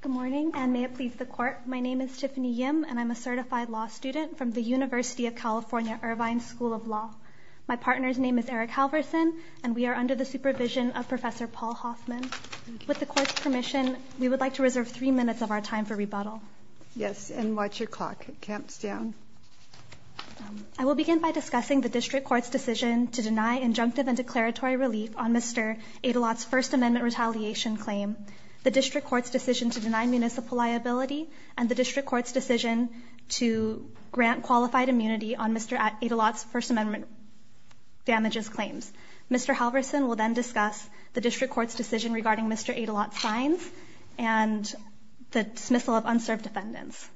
Good morning and may it please the court. My name is Tiffany Yim and I'm a certified law student from the University of California Irvine School of Law. My partner's name is Eric Halverson and we are under the supervision of Professor Paul Hoffman. With the court's permission, we would like to reserve three minutes of our time for rebuttal. Yes, and what's your clock? It counts down. I will begin by discussing the district court's decision to deny injunctive and declaratory relief on Mr. Aydelotte's First Amendment retaliation claim. The district court's decision to deny municipal liability and the district court's decision to grant qualified immunity on Mr. Aydelotte's First Amendment damages claims. Mr. Halverson will then discuss the district court's decision regarding Mr. Aydelotte's fines and the dismissal of unserved defendants.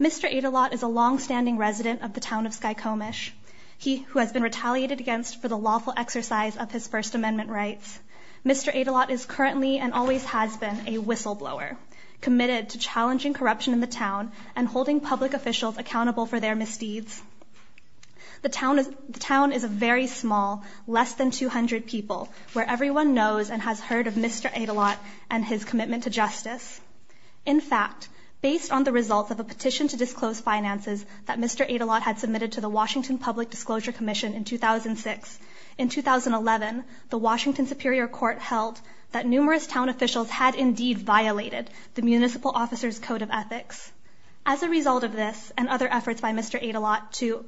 Mr. Aydelotte is a long-standing resident of the town of Skykomish. He who has been retaliated against for the lawful exercise of his First Amendment rights. Mr. Aydelotte is currently and always has been a whistleblower, committed to challenging corruption in the town and holding public officials accountable for their misdeeds. The town is a very small, less than 200 people, where everyone knows and has heard of Mr. Aydelotte and his commitment to justice. In fact, based on the results of a petition to disclose finances that Mr. Aydelotte had submitted to the Washington Public Disclosure Commission in 2006, in 2011, the Washington Superior Court held that numerous town officials had indeed violated the municipal officer's Code of Ethics. As a result of this and other efforts by Mr. Aydelotte to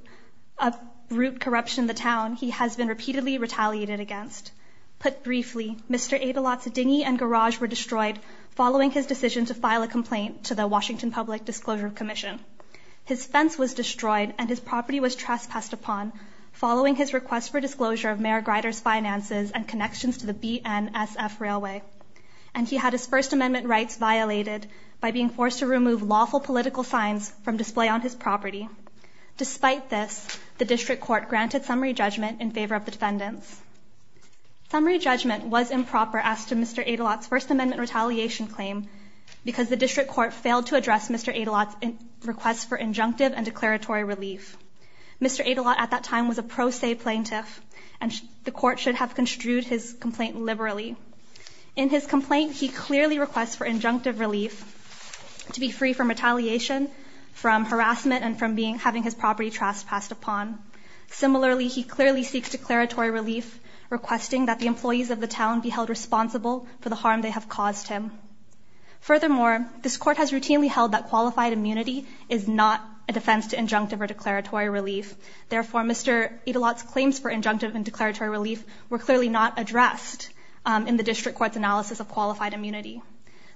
uproot corruption in the town, he has been repeatedly retaliated against. Put briefly, Mr. Aydelotte's dinghy and garage were destroyed following his decision to file a complaint to the Washington Public Disclosure Commission. His fence was destroyed and his property was trespassed upon following his request for disclosure of Mayor Grider's finances and connections to the BNSF Railway, and he had his First Amendment rights violated by being forced to remove lawful political signs from display on his property. Despite this, the District Court granted summary judgment in favor of the defendants. Summary judgment was improper as to Mr. Aydelotte's First Amendment retaliation claim because the District Court failed to address Mr. Aydelotte's requests for injunctive and declaratory relief. Mr. Aydelotte, at that time, was a pro se plaintiff and the court should have construed his complaint liberally. In his complaint, he clearly requests for injunctive relief to be free from retaliation, from harassment, and from having his property trespassed upon. Similarly, he clearly seeks declaratory relief, requesting that the employees of the town be held responsible for the harm they have caused him. Furthermore, this court has routinely held that qualified immunity is not a defense to injunctive or declaratory relief. Therefore, Mr. Aydelotte's claims for injunctive and declaratory relief were clearly not addressed in the District Court's analysis of qualified immunity.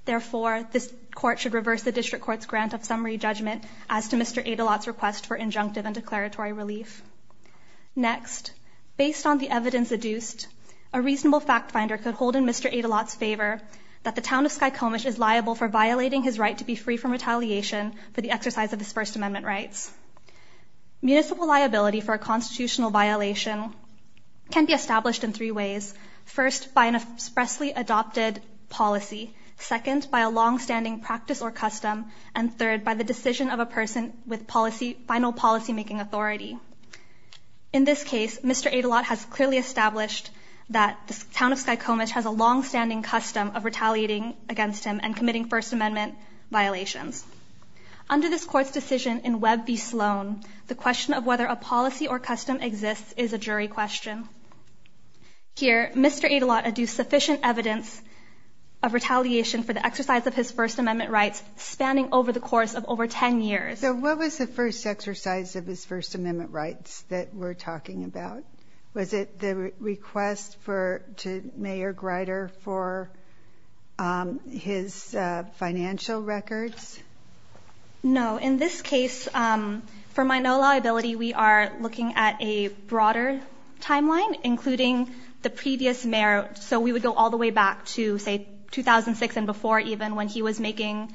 Therefore, this court should reverse the District Court's grant of summary judgment as to Mr. Aydelotte's request for injunctive and declaratory relief. Next, based on the evidence adduced, a reasonable fact finder could hold in Mr. Aydelotte's favor that the town of Skykomish is liable for violating his right to be free from retaliation for the exercise of his First Amendment rights. Municipal liability for a constitutional violation can be established in three ways. First, by an expressly adopted policy. Second, by a long-standing practice or custom. And third, by the decision of a person with final policy-making authority. In this case, Mr. Aydelotte has clearly established that the town of Skykomish has a long-standing custom of retaliating against him and committing First Amendment violations. Under this court's decision in Webb v. Sloan, the question of whether a policy or custom exists is a jury question. Here, Mr. Aydelotte adduced sufficient evidence of retaliation for the exercise of his First Amendment rights, spanning over the course of over 10 years. So what was the first exercise of his First Amendment rights that we're talking about? Was it the request to Mayor Grider for his financial records? No. In this case, for my no liability, we are looking at a broader timeline, including the previous mayor. So we would go all the way back to, say, 2006 and before even when he was making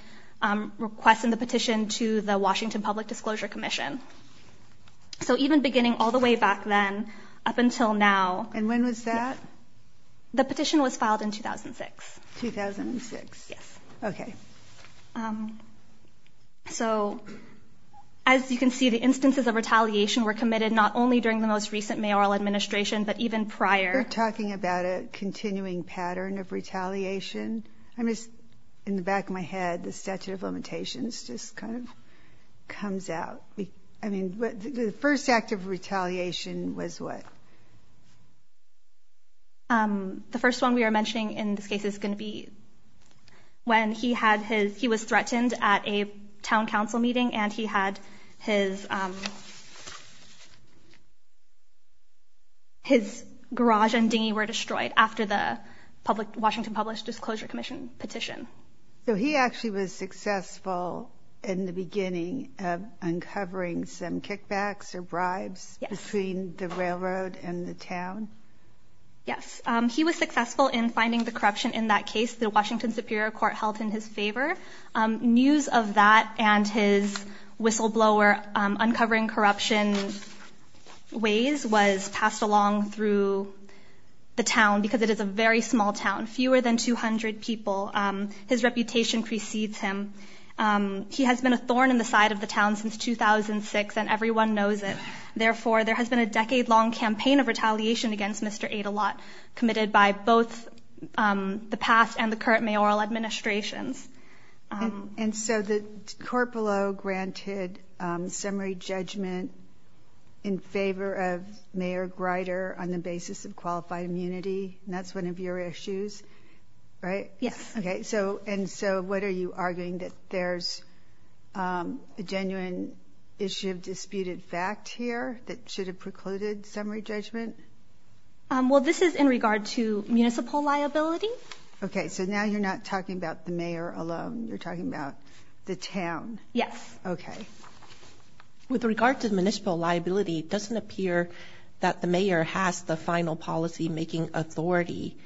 requests in the petition to the Washington Public Disclosure Commission. So even beginning all the way back then, up until now. And when was that? The petition was filed in 2006. 2006? Yes. Okay. So, as you can see, the instances of retaliation were committed not only during the most recent mayoral administration, but even prior. We're talking about a statute of limitations just kind of comes out. I mean, the first act of retaliation was what? The first one we are mentioning in this case is going to be when he had his, he was threatened at a town council meeting and he had his his garage and dinghy were destroyed after the public Washington Published Disclosure Commission petition. So he actually was successful in the beginning of uncovering some kickbacks or bribes between the railroad and the town? Yes, he was successful in finding the corruption in that case. The Washington Superior Court held in his favor. News of that and his whistleblower uncovering corruption ways was passed along through the town because it is a very small town, fewer than 200 people. His reputation precedes him. He has been a thorn in the side of the town since 2006 and everyone knows it. Therefore, there has been a decade-long campaign of retaliation against Mr. Adelotte committed by both the past and the current mayoral administrations. And so the court below granted summary judgment in qualified immunity and that's one of your issues, right? Yes. Okay. So and so what are you arguing that there's a genuine issue of disputed fact here that should have precluded summary judgment? Well, this is in regard to municipal liability. Okay, so now you're not talking about the mayor alone. You're talking about the town. Yes. Okay. With regard to the municipal liability, it doesn't appear that the mayor has the final policy-making authority.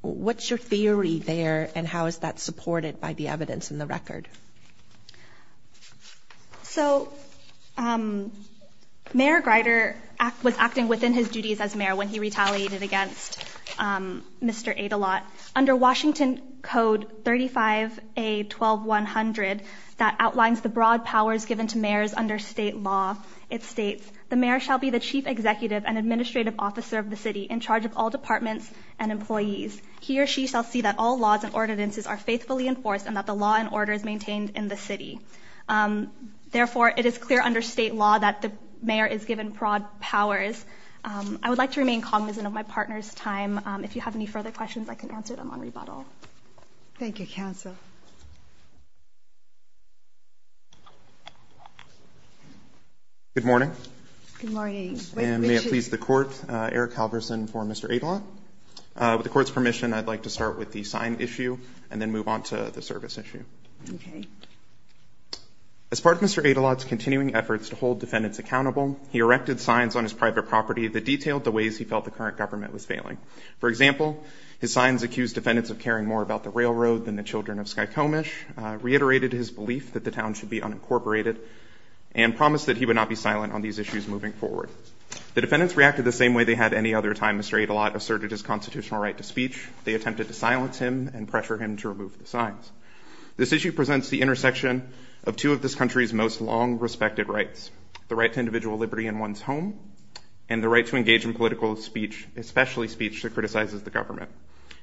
What's your theory there and how is that supported by the evidence in the record? So Mayor Greider was acting within his duties as mayor when he retaliated against Mr. Adelotte. Under Washington Code 35A 12100, that outlines the broad powers given to mayors under state law. It states, the mayor shall be the chief executive and administrative officer of the city in charge of all departments and employees. He or she shall see that all laws and ordinances are faithfully enforced and that the law and order is maintained in the city. Therefore, it is clear under state law that the mayor is given broad powers. I would like to remain cognizant of my partner's time. If you have any further questions, I can answer them on rebuttal. Thank you, counsel. Good morning. Good morning. May it please the court, Eric Halverson for Mr. Adelotte. With the court's permission, I'd like to start with the sign issue and then move on to the service issue. Okay. As part of Mr. Adelotte's continuing efforts to hold defendants accountable, he erected signs on his private property that detailed the ways he felt the current government was failing. For example, his signs accused defendants of caring more about the railroad than the children of Skykomish, reiterated his belief that the town should be unincorporated, and promised that he would not be silent on these issues moving forward. The defendants reacted the same way they had any other time. Mr. Adelotte asserted his constitutional right to speech. They attempted to silence him and pressure him to remove the signs. This issue presents the intersection of two of this country's most long-respected rights, the right to individual liberty in one's home and the right to engage in political speech, especially speech that criticizes the government.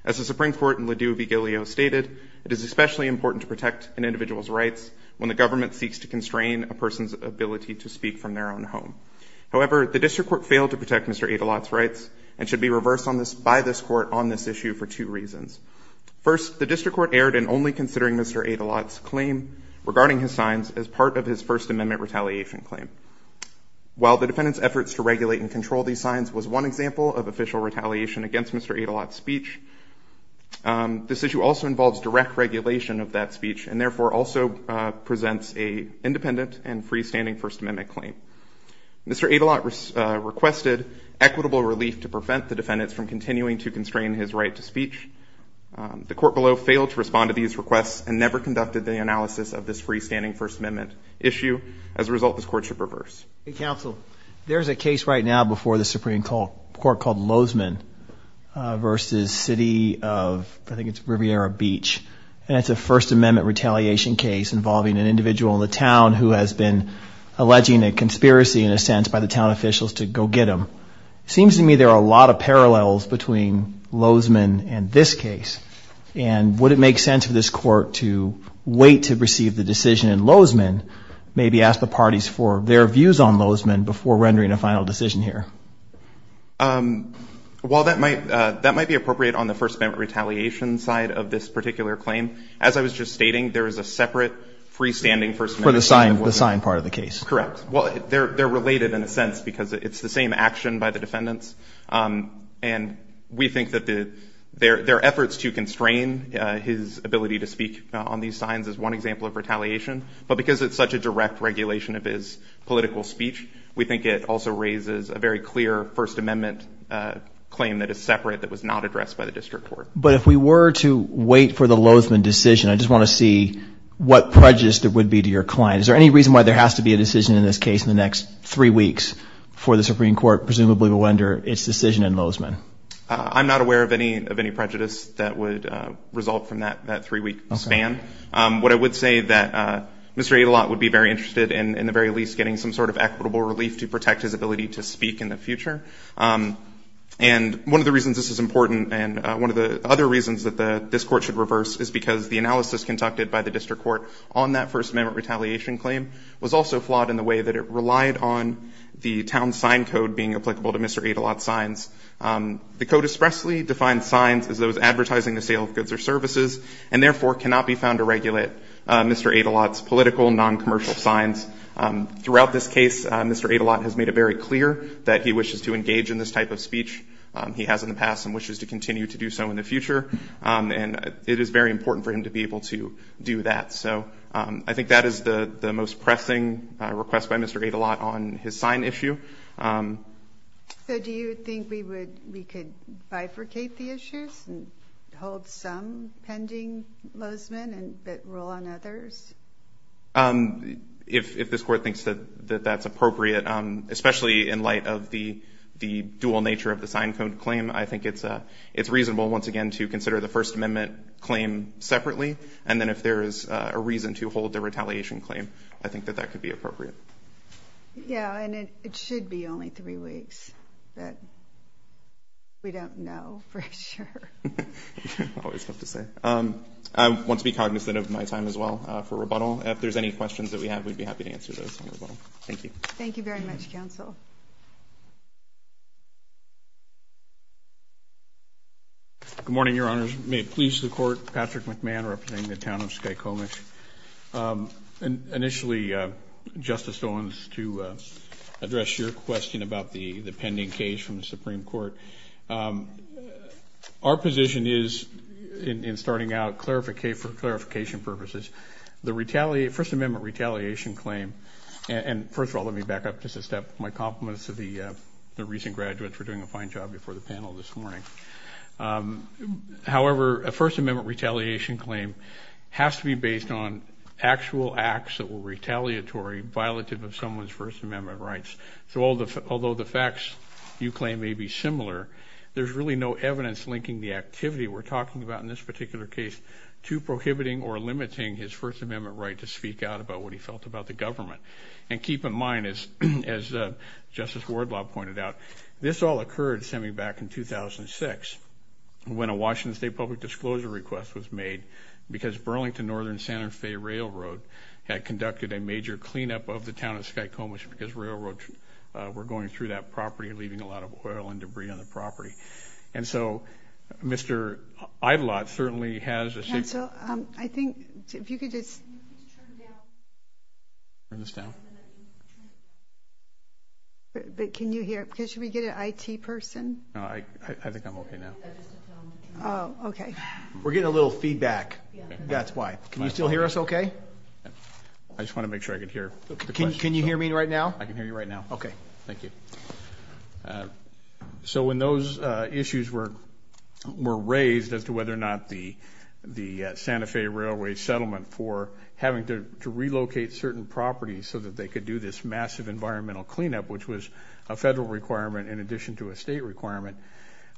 As the Supreme Court in LaDue v. Gillio stated, it is especially important to protect an individual's rights when the government seeks to constrain a person's ability to speak from their own home. However, the district court failed to protect Mr. Adelotte's rights and should be reversed by this court on this issue for two reasons. First, the district court erred in only considering Mr. Adelotte's claim regarding his signs as part of his First Amendment retaliation claim. While the defendants' efforts to regulate and control these signs was one example of official retaliation against Mr. Adelotte's speech, this issue also involves direct regulation of that speech and therefore also presents a independent and freestanding First Amendment claim. Mr. Adelotte requested equitable relief to prevent the defendants from continuing to constrain his right to speech. The court below failed to respond to these requests and never conducted the analysis of this freestanding First Amendment issue. As a result, this court should reverse. There's a case right now before the Supreme Court called Lozeman versus City of, I think it's Riviera Beach, and it's a First Amendment retaliation case involving an individual in the town who has been alleging a conspiracy, in a sense, by the town officials to go get him. Seems to me there are a lot of parallels between Lozeman and this case, and would it make sense for this court to wait to receive the decision in Lozeman? Maybe ask the parties for their views on Lozeman before rendering a final decision here. While that might, that might be appropriate on the First Amendment retaliation side of this particular claim, as I was just stating, there is a separate freestanding First Amendment. For the sign, the sign part of the case. Correct. Well, they're, they're related in a sense because it's the same action by the defendants, and we think that the, their, their efforts to constrain his ability to speak on these signs is one example of retaliation, but because it's such a direct regulation of his political speech, we think it also raises a very clear First Amendment claim that is separate that was not addressed by the District Court. But if we were to wait for the Lozeman decision, I just want to see what prejudice that would be to your client. Is there any reason why there has to be a decision in this case in the next three weeks for the Supreme Court, presumably to render its decision in Lozeman? I'm not aware of any, of any prejudice that would result from that, that three-week span. What I would say that Mr. Adelotte would be very interested in, in the very least, getting some sort of equitable relief to protect his ability to speak in the future. And one of the reasons this is important, and one of the other reasons that the, this Court should reverse, is because the analysis conducted by the District Court on that First Amendment retaliation claim was also flawed in the way that it relied on the town sign code being applicable to Mr. Adelotte's signs. The code expressly defined signs as those advertising the sale of goods or services, and therefore cannot be found to regulate Mr. Adelotte's political, non-commercial signs. Throughout this case, Mr. Adelotte has made it very clear that he wishes to engage in this type of speech he has in the past and wishes to continue to do so in the future. And it is very important for him to be able to do that. So I think that is the the most pressing request by Mr. Adelotte on his sign issue. So do you think we would, we could bifurcate the issues and hold some pending Lozman and bit rule on others? If this Court thinks that that's appropriate, especially in light of the, the dual nature of the sign code claim, I think it's, it's reasonable once again to consider the First Amendment claim separately. And then if there is a reason to hold the retaliation claim, I think that that could be appropriate. Yeah, and it should be only three weeks, but we don't know for sure. Always tough to say. I want to be cognizant of my time as well for rebuttal. If there's any questions that we have, we'd be happy to answer those as well. Thank you. Thank you very much, counsel. Good morning, Your Honors. May it please the Court, Patrick McMahon, representing the town of Skykomish. Initially, Justice Owens, to address your question about the pending case from the Supreme Court. Our position is, in starting out, for clarification purposes, the First Amendment retaliation claim. And first of all, let me back up just a step. My compliments to the recent graduates for doing a fine job before the panel this morning. However, a First Amendment retaliation claim has to be based on actual acts that were retaliatory, violative of someone's First Amendment rights. So although the facts you claim may be similar, there's really no evidence linking the activity we're talking about in this particular case to prohibiting or limiting his First Amendment right to speak out about what he felt about the government. And keep in mind, as Justice Wardlaw pointed out, this all occurred semi-back in 2006 when a Washington State public disclosure request was made because Burlington Northern Santa Fe Railroad had conducted a major cleanup of the town of Skykomish because railroads were going through that property, leaving a lot of oil and debris on the property. And so, Mr. Idelot certainly has a... Council, I think if you could just turn this down. But can you hear because should we get an I.T. person? No, I think I'm OK now. Oh, OK. We're getting a little feedback. That's why. Can you still hear us OK? I just want to make sure I could hear. Can you hear me right now? I can hear you right now. OK, thank you. So when those issues were raised as to whether or not the Santa Fe Railway settlement for having to relocate certain properties so that they could do this massive environmental cleanup, which was a federal requirement in addition to a state requirement,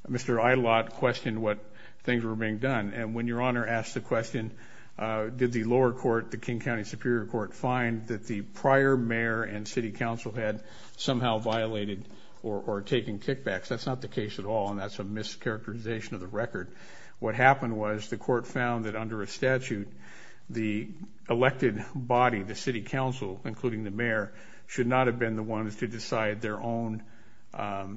Mr. Idelot questioned what things were being done. And when Your Honor asked the question, did the lower court, the King County Superior Court, find that the prior mayor and the mayor were being manipulated or taking kickbacks? That's not the case at all. And that's a mischaracterization of the record. What happened was the court found that under a statute, the elected body, the city council, including the mayor, should not have been the ones to decide their own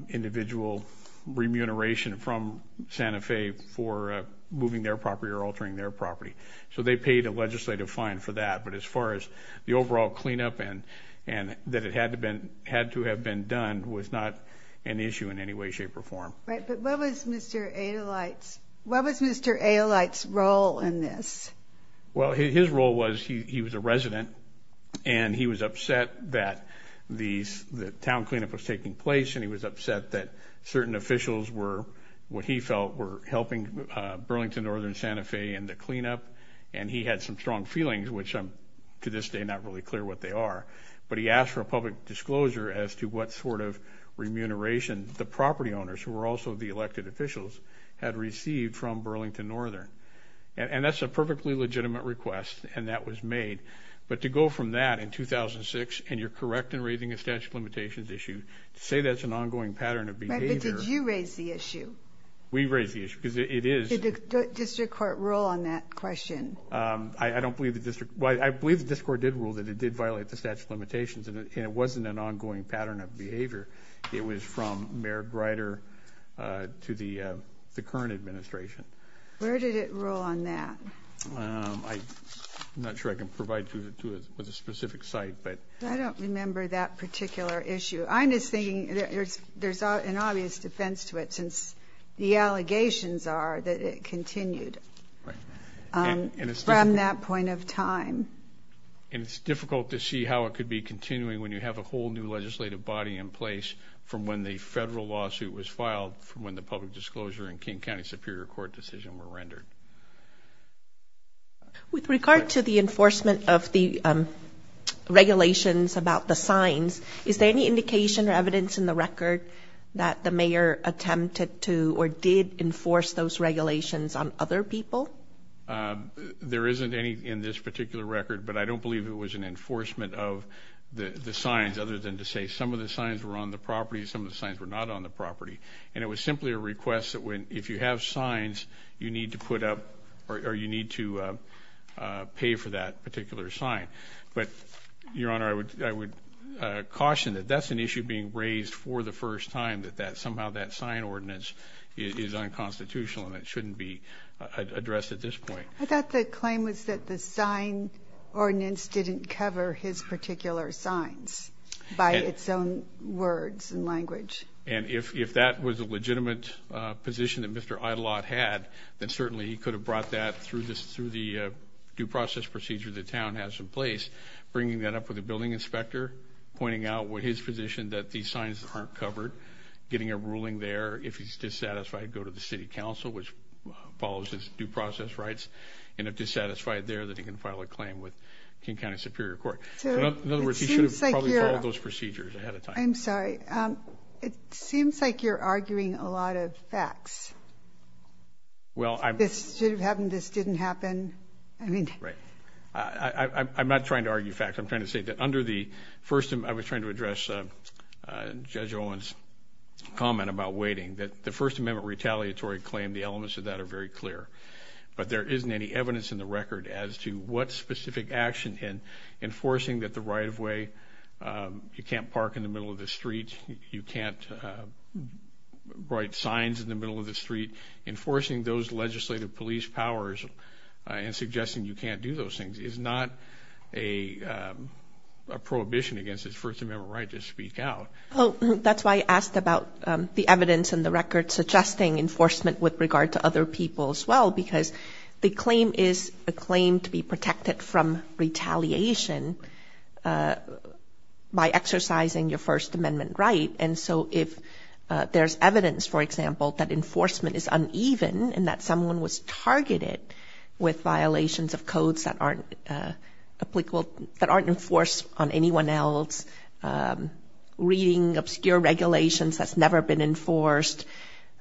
individual remuneration from Santa Fe for moving their property or altering their property. So they paid a legislative fine for that. But as far as the overall cleanup and that it had to have been done was not an issue in any way, shape or form. Right. But what was Mr. Idelot's, what was Mr. Idelot's role in this? Well, his role was he was a resident and he was upset that the town cleanup was taking place. And he was upset that certain officials were, what he felt, were helping Burlington Northern Santa Fe in the cleanup. And he had some strong feelings, which to this day, I'm not really clear what they are. But he asked for a public disclosure as to what sort of remuneration the property owners, who were also the elected officials, had received from Burlington Northern. And that's a perfectly legitimate request. And that was made. But to go from that in 2006, and you're correct in raising a statute of limitations issue, to say that's an ongoing pattern of behavior. Did you raise the issue? We raised the issue because it is. Did the district court rule on that question? I don't believe the district. Well, I believe the district court did rule that it did violate the statute of limitations and it wasn't an ongoing pattern of behavior. It was from Mayor Greider to the current administration. Where did it rule on that? I'm not sure I can provide you with a specific site, but. I don't remember that particular issue. I'm just thinking there's an obvious defense to it since the allegations are that it continued from that point of time. And it's difficult to see how it could be continuing when you have a whole new legislative body in place from when the federal lawsuit was filed, from when the public disclosure and King County Superior Court decision were rendered. With regard to the enforcement of the regulations about the signs, is there any indication or evidence in the record that the mayor attempted to or did enforce those regulations on other people? There isn't any in this particular record, but I don't believe it was an enforcement of the signs, other than to say some of the signs were on the property, some of the signs were not on the property. And it was simply a request that if you have signs, you need to put up or you need to pay for that particular sign. But, Your Honor, I would caution that that's an issue being raised for the first time, that somehow that sign ordinance is unconstitutional and it shouldn't be addressed at this point. I thought the claim was that the sign ordinance didn't cover his particular signs by its own words and language. And if that was a legitimate position that Mr. Idelot had, then certainly he could have brought that through the due process procedure the town has in place, bringing that up with a building inspector, pointing out with his position that these signs aren't covered, getting a ruling there. If he's dissatisfied, go to the city council, which follows his due process rights. And if dissatisfied there, that he can file a claim with King County Superior Court. In other words, he should have probably followed those procedures ahead of time. I'm sorry. It seems like you're arguing a lot of facts. Well, this should have happened. This didn't happen. I mean, I'm not trying to argue facts. I'm trying to say that under the first, I was trying to address Judge Owen's comment about waiting, that the First Amendment retaliatory claim, the elements of that are very clear. But there isn't any evidence in the record as to what specific action in enforcing that the right of way, you can't park in the street, you can't write signs in the middle of the street, enforcing those legislative police powers and suggesting you can't do those things is not a prohibition against his First Amendment right to speak out. Oh, that's why I asked about the evidence in the record suggesting enforcement with regard to other people as well, because the And so if there's evidence, for example, that enforcement is uneven and that someone was targeted with violations of codes that aren't applicable, that aren't enforced on anyone else, reading obscure regulations that's never been enforced.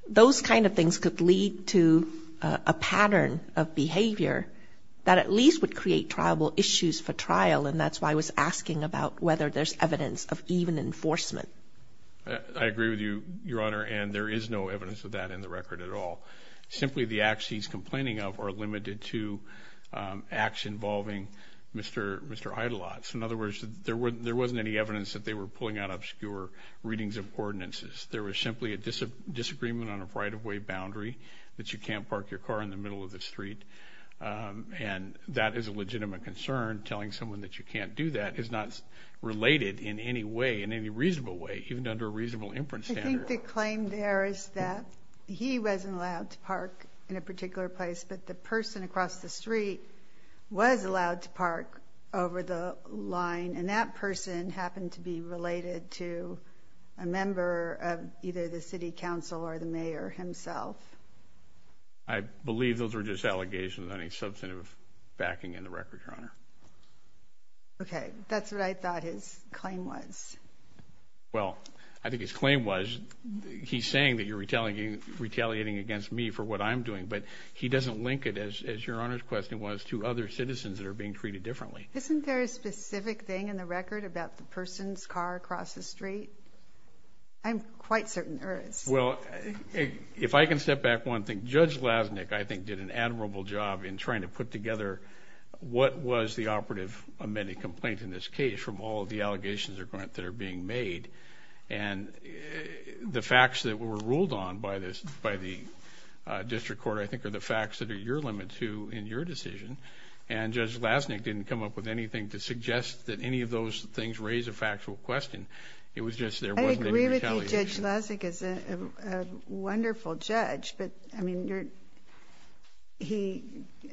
Those kind of things could lead to a pattern of behavior that at least would create tribal issues for trial. And that's why I was asking about whether there's evidence of even enforcement. I agree with you, Your Honor. And there is no evidence of that in the record at all. Simply the acts he's complaining of are limited to acts involving Mr. Mr. Eidelots. In other words, there wasn't any evidence that they were pulling out obscure readings of ordinances. There was simply a disagreement on a right of way boundary that you can't park your car in the middle of the street. And that is a legitimate concern. Telling someone that you can't do that is not related in any way, in any reasonable way, even under a reasonable inference. I think the claim there is that he wasn't allowed to park in a particular place. But the person across the street was allowed to park over the line. And that person happened to be related to a member of either the city council or the mayor himself. I believe those were just allegations, not any substantive backing in the record, Your Honor. Okay, that's what I thought his claim was. Well, I think his claim was he's saying that you're retaliating against me for what I'm doing, but he doesn't link it, as Your Honor's question was, to other citizens that are being treated differently. Isn't there a specific thing in the record about the person's car across the street? I'm quite certain there is. Well, if I can step back one thing. Judge Lasnik, I think, did an admirable job in trying to put together what was the operative amended complaint in this case from all of the allegations that are being made. And the facts that were ruled on by the district court, I think, are the facts that are your limit, too, in your decision. And Judge Lasnik didn't come up with anything to suggest that any of those things raise a factual question. It was just there wasn't any retaliation. I think Judge Lasnik is a wonderful judge, but, I mean, he,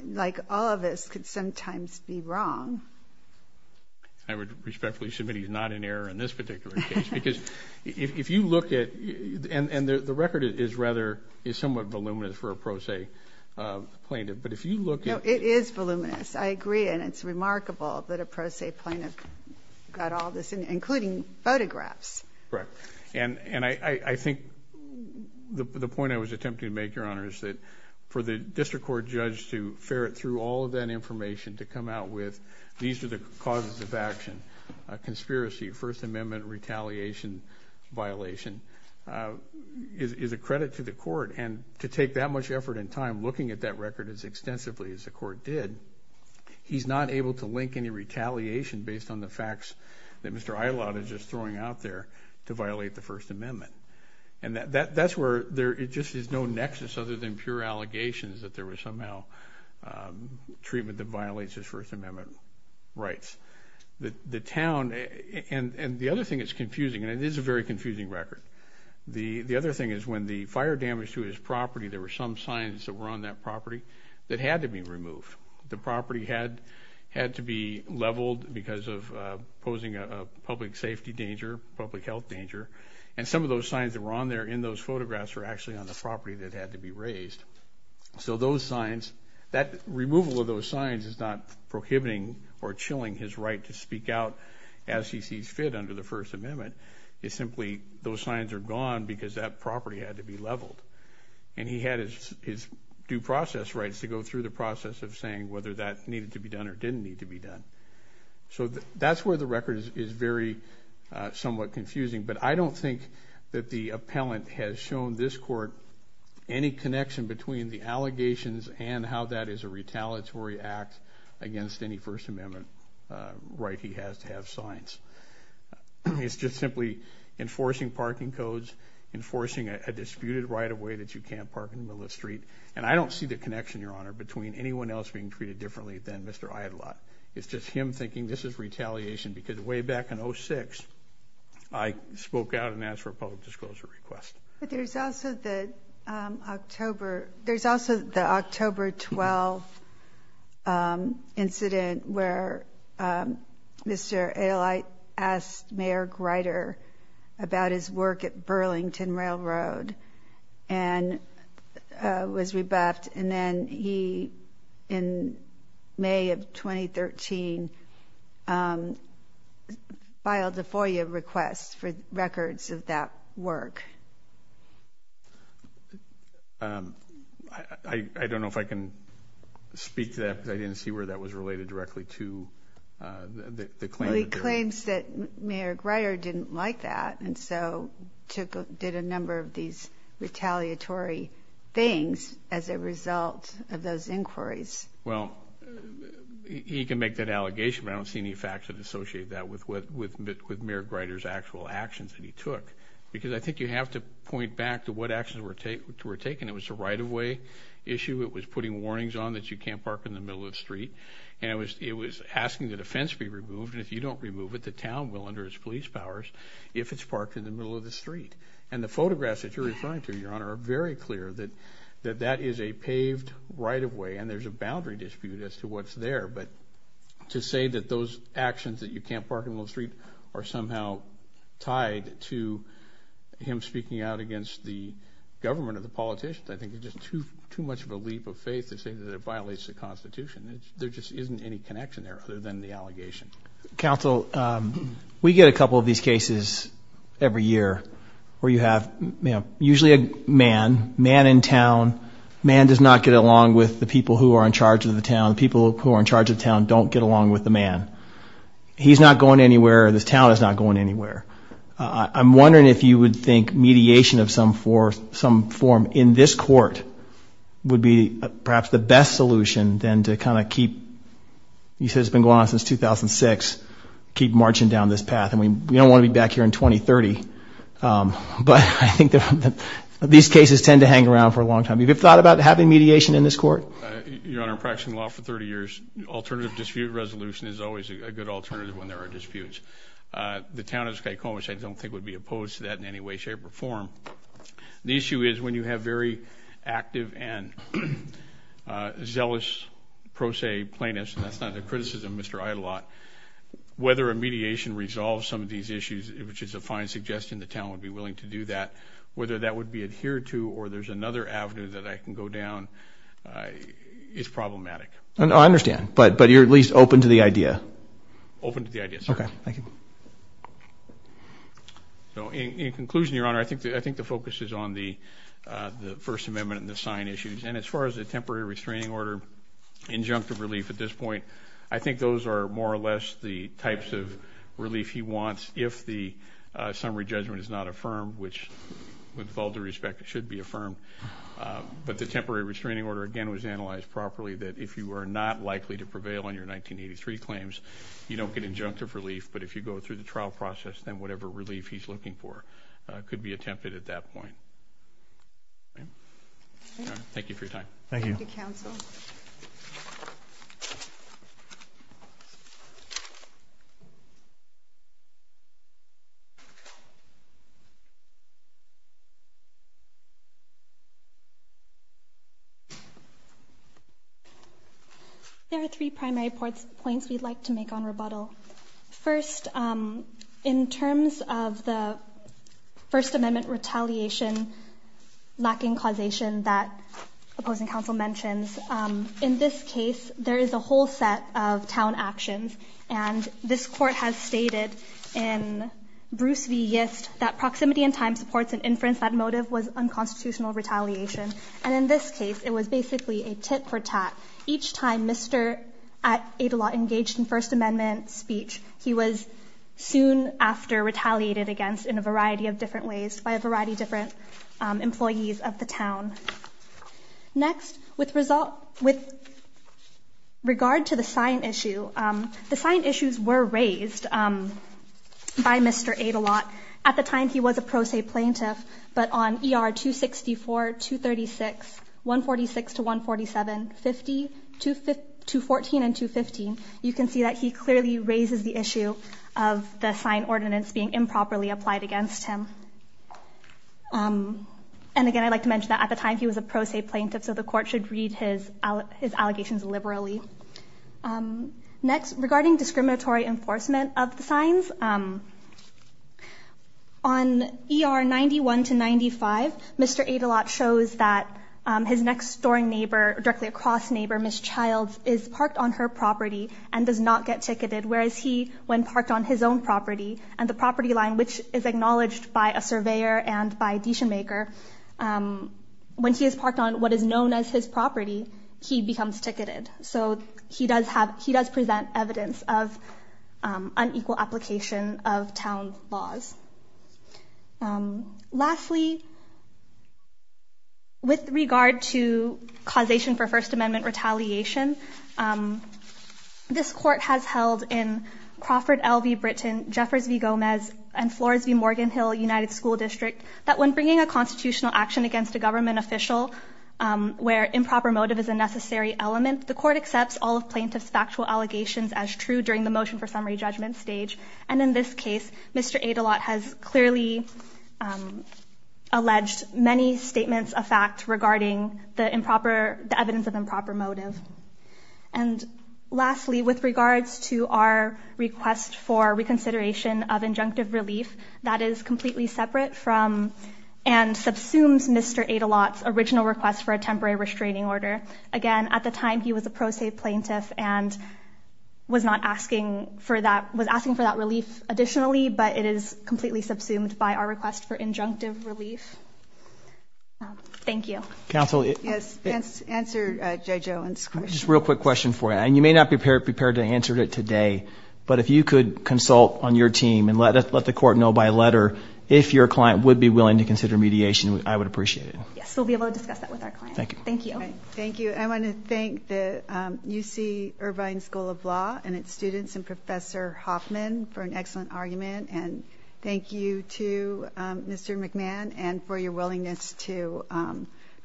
like all of us, could sometimes be wrong. I would respectfully submit he's not in error in this particular case, because if you look at, and the record is rather, is somewhat voluminous for a pro se plaintiff, but if you look at- No, it is voluminous, I agree, and it's remarkable that a pro se plaintiff got all this in, including photographs. Correct. And I think the point I was attempting to make, Your Honor, is that for the district court judge to ferret through all of that information to come out with, these are the causes of action, a conspiracy, a First Amendment retaliation violation, is a credit to the court. And to take that much effort and time looking at that record as extensively as the court did, he's not able to link any retaliation based on the facts that Mr. Eilat is just throwing out there to violate the First Amendment. And that's where there just is no nexus other than pure allegations that there was somehow treatment that violates his First Amendment rights. The town, and the other thing that's confusing, and it is a very confusing record, the other thing is when the fire damaged his property, there were some signs that were on that property that had to be removed. The property had to be leveled because of posing a public safety danger, public health danger. And some of those signs that were on there in those photographs were actually on the property that had to be raised. So those signs, that removal of those signs is not prohibiting or chilling his right to speak out as he sees fit under the First Amendment. It's simply those signs are gone because that property had to be leveled. And he had his due process rights to go through the process of saying whether that needed to be done or didn't need to be done. So that's where the record is very somewhat confusing. But I don't think that the appellant has shown this court any connection between the allegations and how that is a retaliatory act against any First Amendment right he has to have signs. It's just simply enforcing parking codes, enforcing a disputed right-of-way that you can't park in the middle of the street. And I don't see the connection, Your Honor, between anyone else being treated differently than Mr. Idelot. It's just him thinking this is retaliation because way back in 06, I spoke out and asked for a public disclosure request. But there's also the October 12th incident where Mr. Idelot asked Mayor Grider about his work at Burlington Railroad and was rebuffed. And then he, in May of 2013, filed a FOIA request for records of that work. I don't know if I can speak to that because I didn't see where that was related directly to the claim. He claims that Mayor Grider didn't like that and so took a did a number of these retaliatory things as a result of those inquiries. Well, he can make that allegation, but I don't see any facts that associate that with Mayor Grider's actual actions that he took. Because I think you have to point back to what actions were taken. It was a right-of-way issue. It was putting warnings on that you can't park in the middle of the street. And it was asking that a fence be removed. And if you don't remove it, the town will, under its police powers, if it's parked in the middle of the street. And the photographs that you're referring to, Your Honor, are very clear that that is a paved right-of-way. And there's a boundary dispute as to what's there. But to say that those actions, that you can't park in the middle of the street, are somehow tied to him speaking out against the government or the politicians, I think it's just too much of a leap of faith to say that it violates the Constitution. There just isn't any connection there other than the allegation. Counsel, we get a couple of these cases every year where you have, usually a man, man in town, man does not get along with the people who are in charge of the town. The people who are in charge of the town don't get along with the man. He's not going anywhere. The town is not going anywhere. I'm wondering if you would think mediation of some form in this court would be perhaps the best solution than to kind of keep, you said it's been going on since 2006, keep marching down this path. And we don't want to be back here in 2030. But I think that these cases tend to hang around for a long time. Have you thought about having mediation in this court? Your Honor, I've been practicing law for 30 years. Alternative dispute resolution is always a good alternative when there are disputes. The town of Skycoma, I don't think would be opposed to that in any way, shape, or form. The issue is when you have very active and zealous pro se plaintiffs, and that's not a criticism, Mr. Idelot, whether a mediation resolves some of these issues, which is a fine suggestion, the town would be willing to do that, whether that would be adhered to or there's another avenue that I can go down is problematic. I understand, but you're at least open to the idea? Open to the idea, sir. Okay, thank you. So in conclusion, Your Honor, I think the focus is on the First Amendment and the sign issues. And as far as the temporary restraining order, injunctive relief at this point, I think those are more or less the types of relief he wants if the summary judgment is not affirmed, which, with all due respect, it should be affirmed. But the temporary restraining order, again, was analyzed properly, that if you are not likely to prevail on your 1983 claims, you don't get injunctive relief. But if you go through the trial process, then whatever relief he's looking for could be attempted at that point. Thank you for your time. Thank you. Thank you, counsel. There are three primary points we'd like to make on rebuttal. First, in terms of the First Amendment retaliation, lacking causation that opposing counsel mentions. In this case, there is a whole set of town actions. And this court has stated in Bruce v. Yist that proximity in time supports an inference that motive was unconstitutional retaliation. And in this case, it was basically a tit for tat. Each time Mr. Adelot engaged in First Amendment speech, he was soon after retaliated against in a variety of different ways, by a variety of different employees of the town. Next, with regard to the sign issue, the sign issues were raised by Mr. Adelot. At the time, he was a pro se plaintiff, but on ER 264, 236, 146 to 147, 214 and 215, you can see that he clearly raises the issue of the sign ordinance being improperly applied against him. And again, I'd like to mention that at the time, he was a pro se plaintiff, so the court should read his allegations liberally. Next, regarding discriminatory enforcement of the signs, on ER 91 to 95, Mr. Adelot shows that his next door neighbor, directly across neighbor, Ms. Childs, is parked on her property and does not get ticketed, whereas he, when parked on his own property, and the property line, which is acknowledged by a surveyor and by a decision maker, when he is parked on what is known as his property, he becomes ticketed. So he does have, he does present evidence of unequal application of town laws. Lastly, with regard to causation for First Amendment retaliation, this court has held in Crawford L.V. Britain, Jeffers V. Gomez, and Flores V. Morgan Hill United School District, that when bringing a constitutional action against a government official, where improper motive is a necessary element, the court accepts all of plaintiff's factual allegations as true during the motion for summary judgment stage. And in this case, Mr. Adelot has clearly alleged many statements of fact regarding the improper, the evidence of improper motive. And lastly, with regards to our request for reconsideration of injunctive relief, that is completely separate from and subsumes Mr. Adelot's original request for a temporary restraining order. Again, at the time, he was a pro se plaintiff and was not asking for that, was asking for that relief additionally, but it is completely subsumed by our request for injunctive relief. Thank you. Counsel. Yes, answer Jay Joann's question. Just real quick question for you, and you may not be prepared to answer it today. But if you could consult on your team and let the court know by letter if your client would be willing to consider mediation, I would appreciate it. Yes, we'll be able to discuss that with our client. Thank you. Thank you. Thank you. I want to thank the UC Irvine School of Law and its students and Professor Hoffman for an excellent argument. And thank you to Mr. McMahon and for your willingness to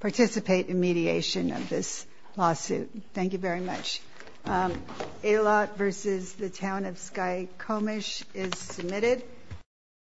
participate in mediation of this lawsuit. Thank you very much. A lot versus the town of Sky Comish is submitted.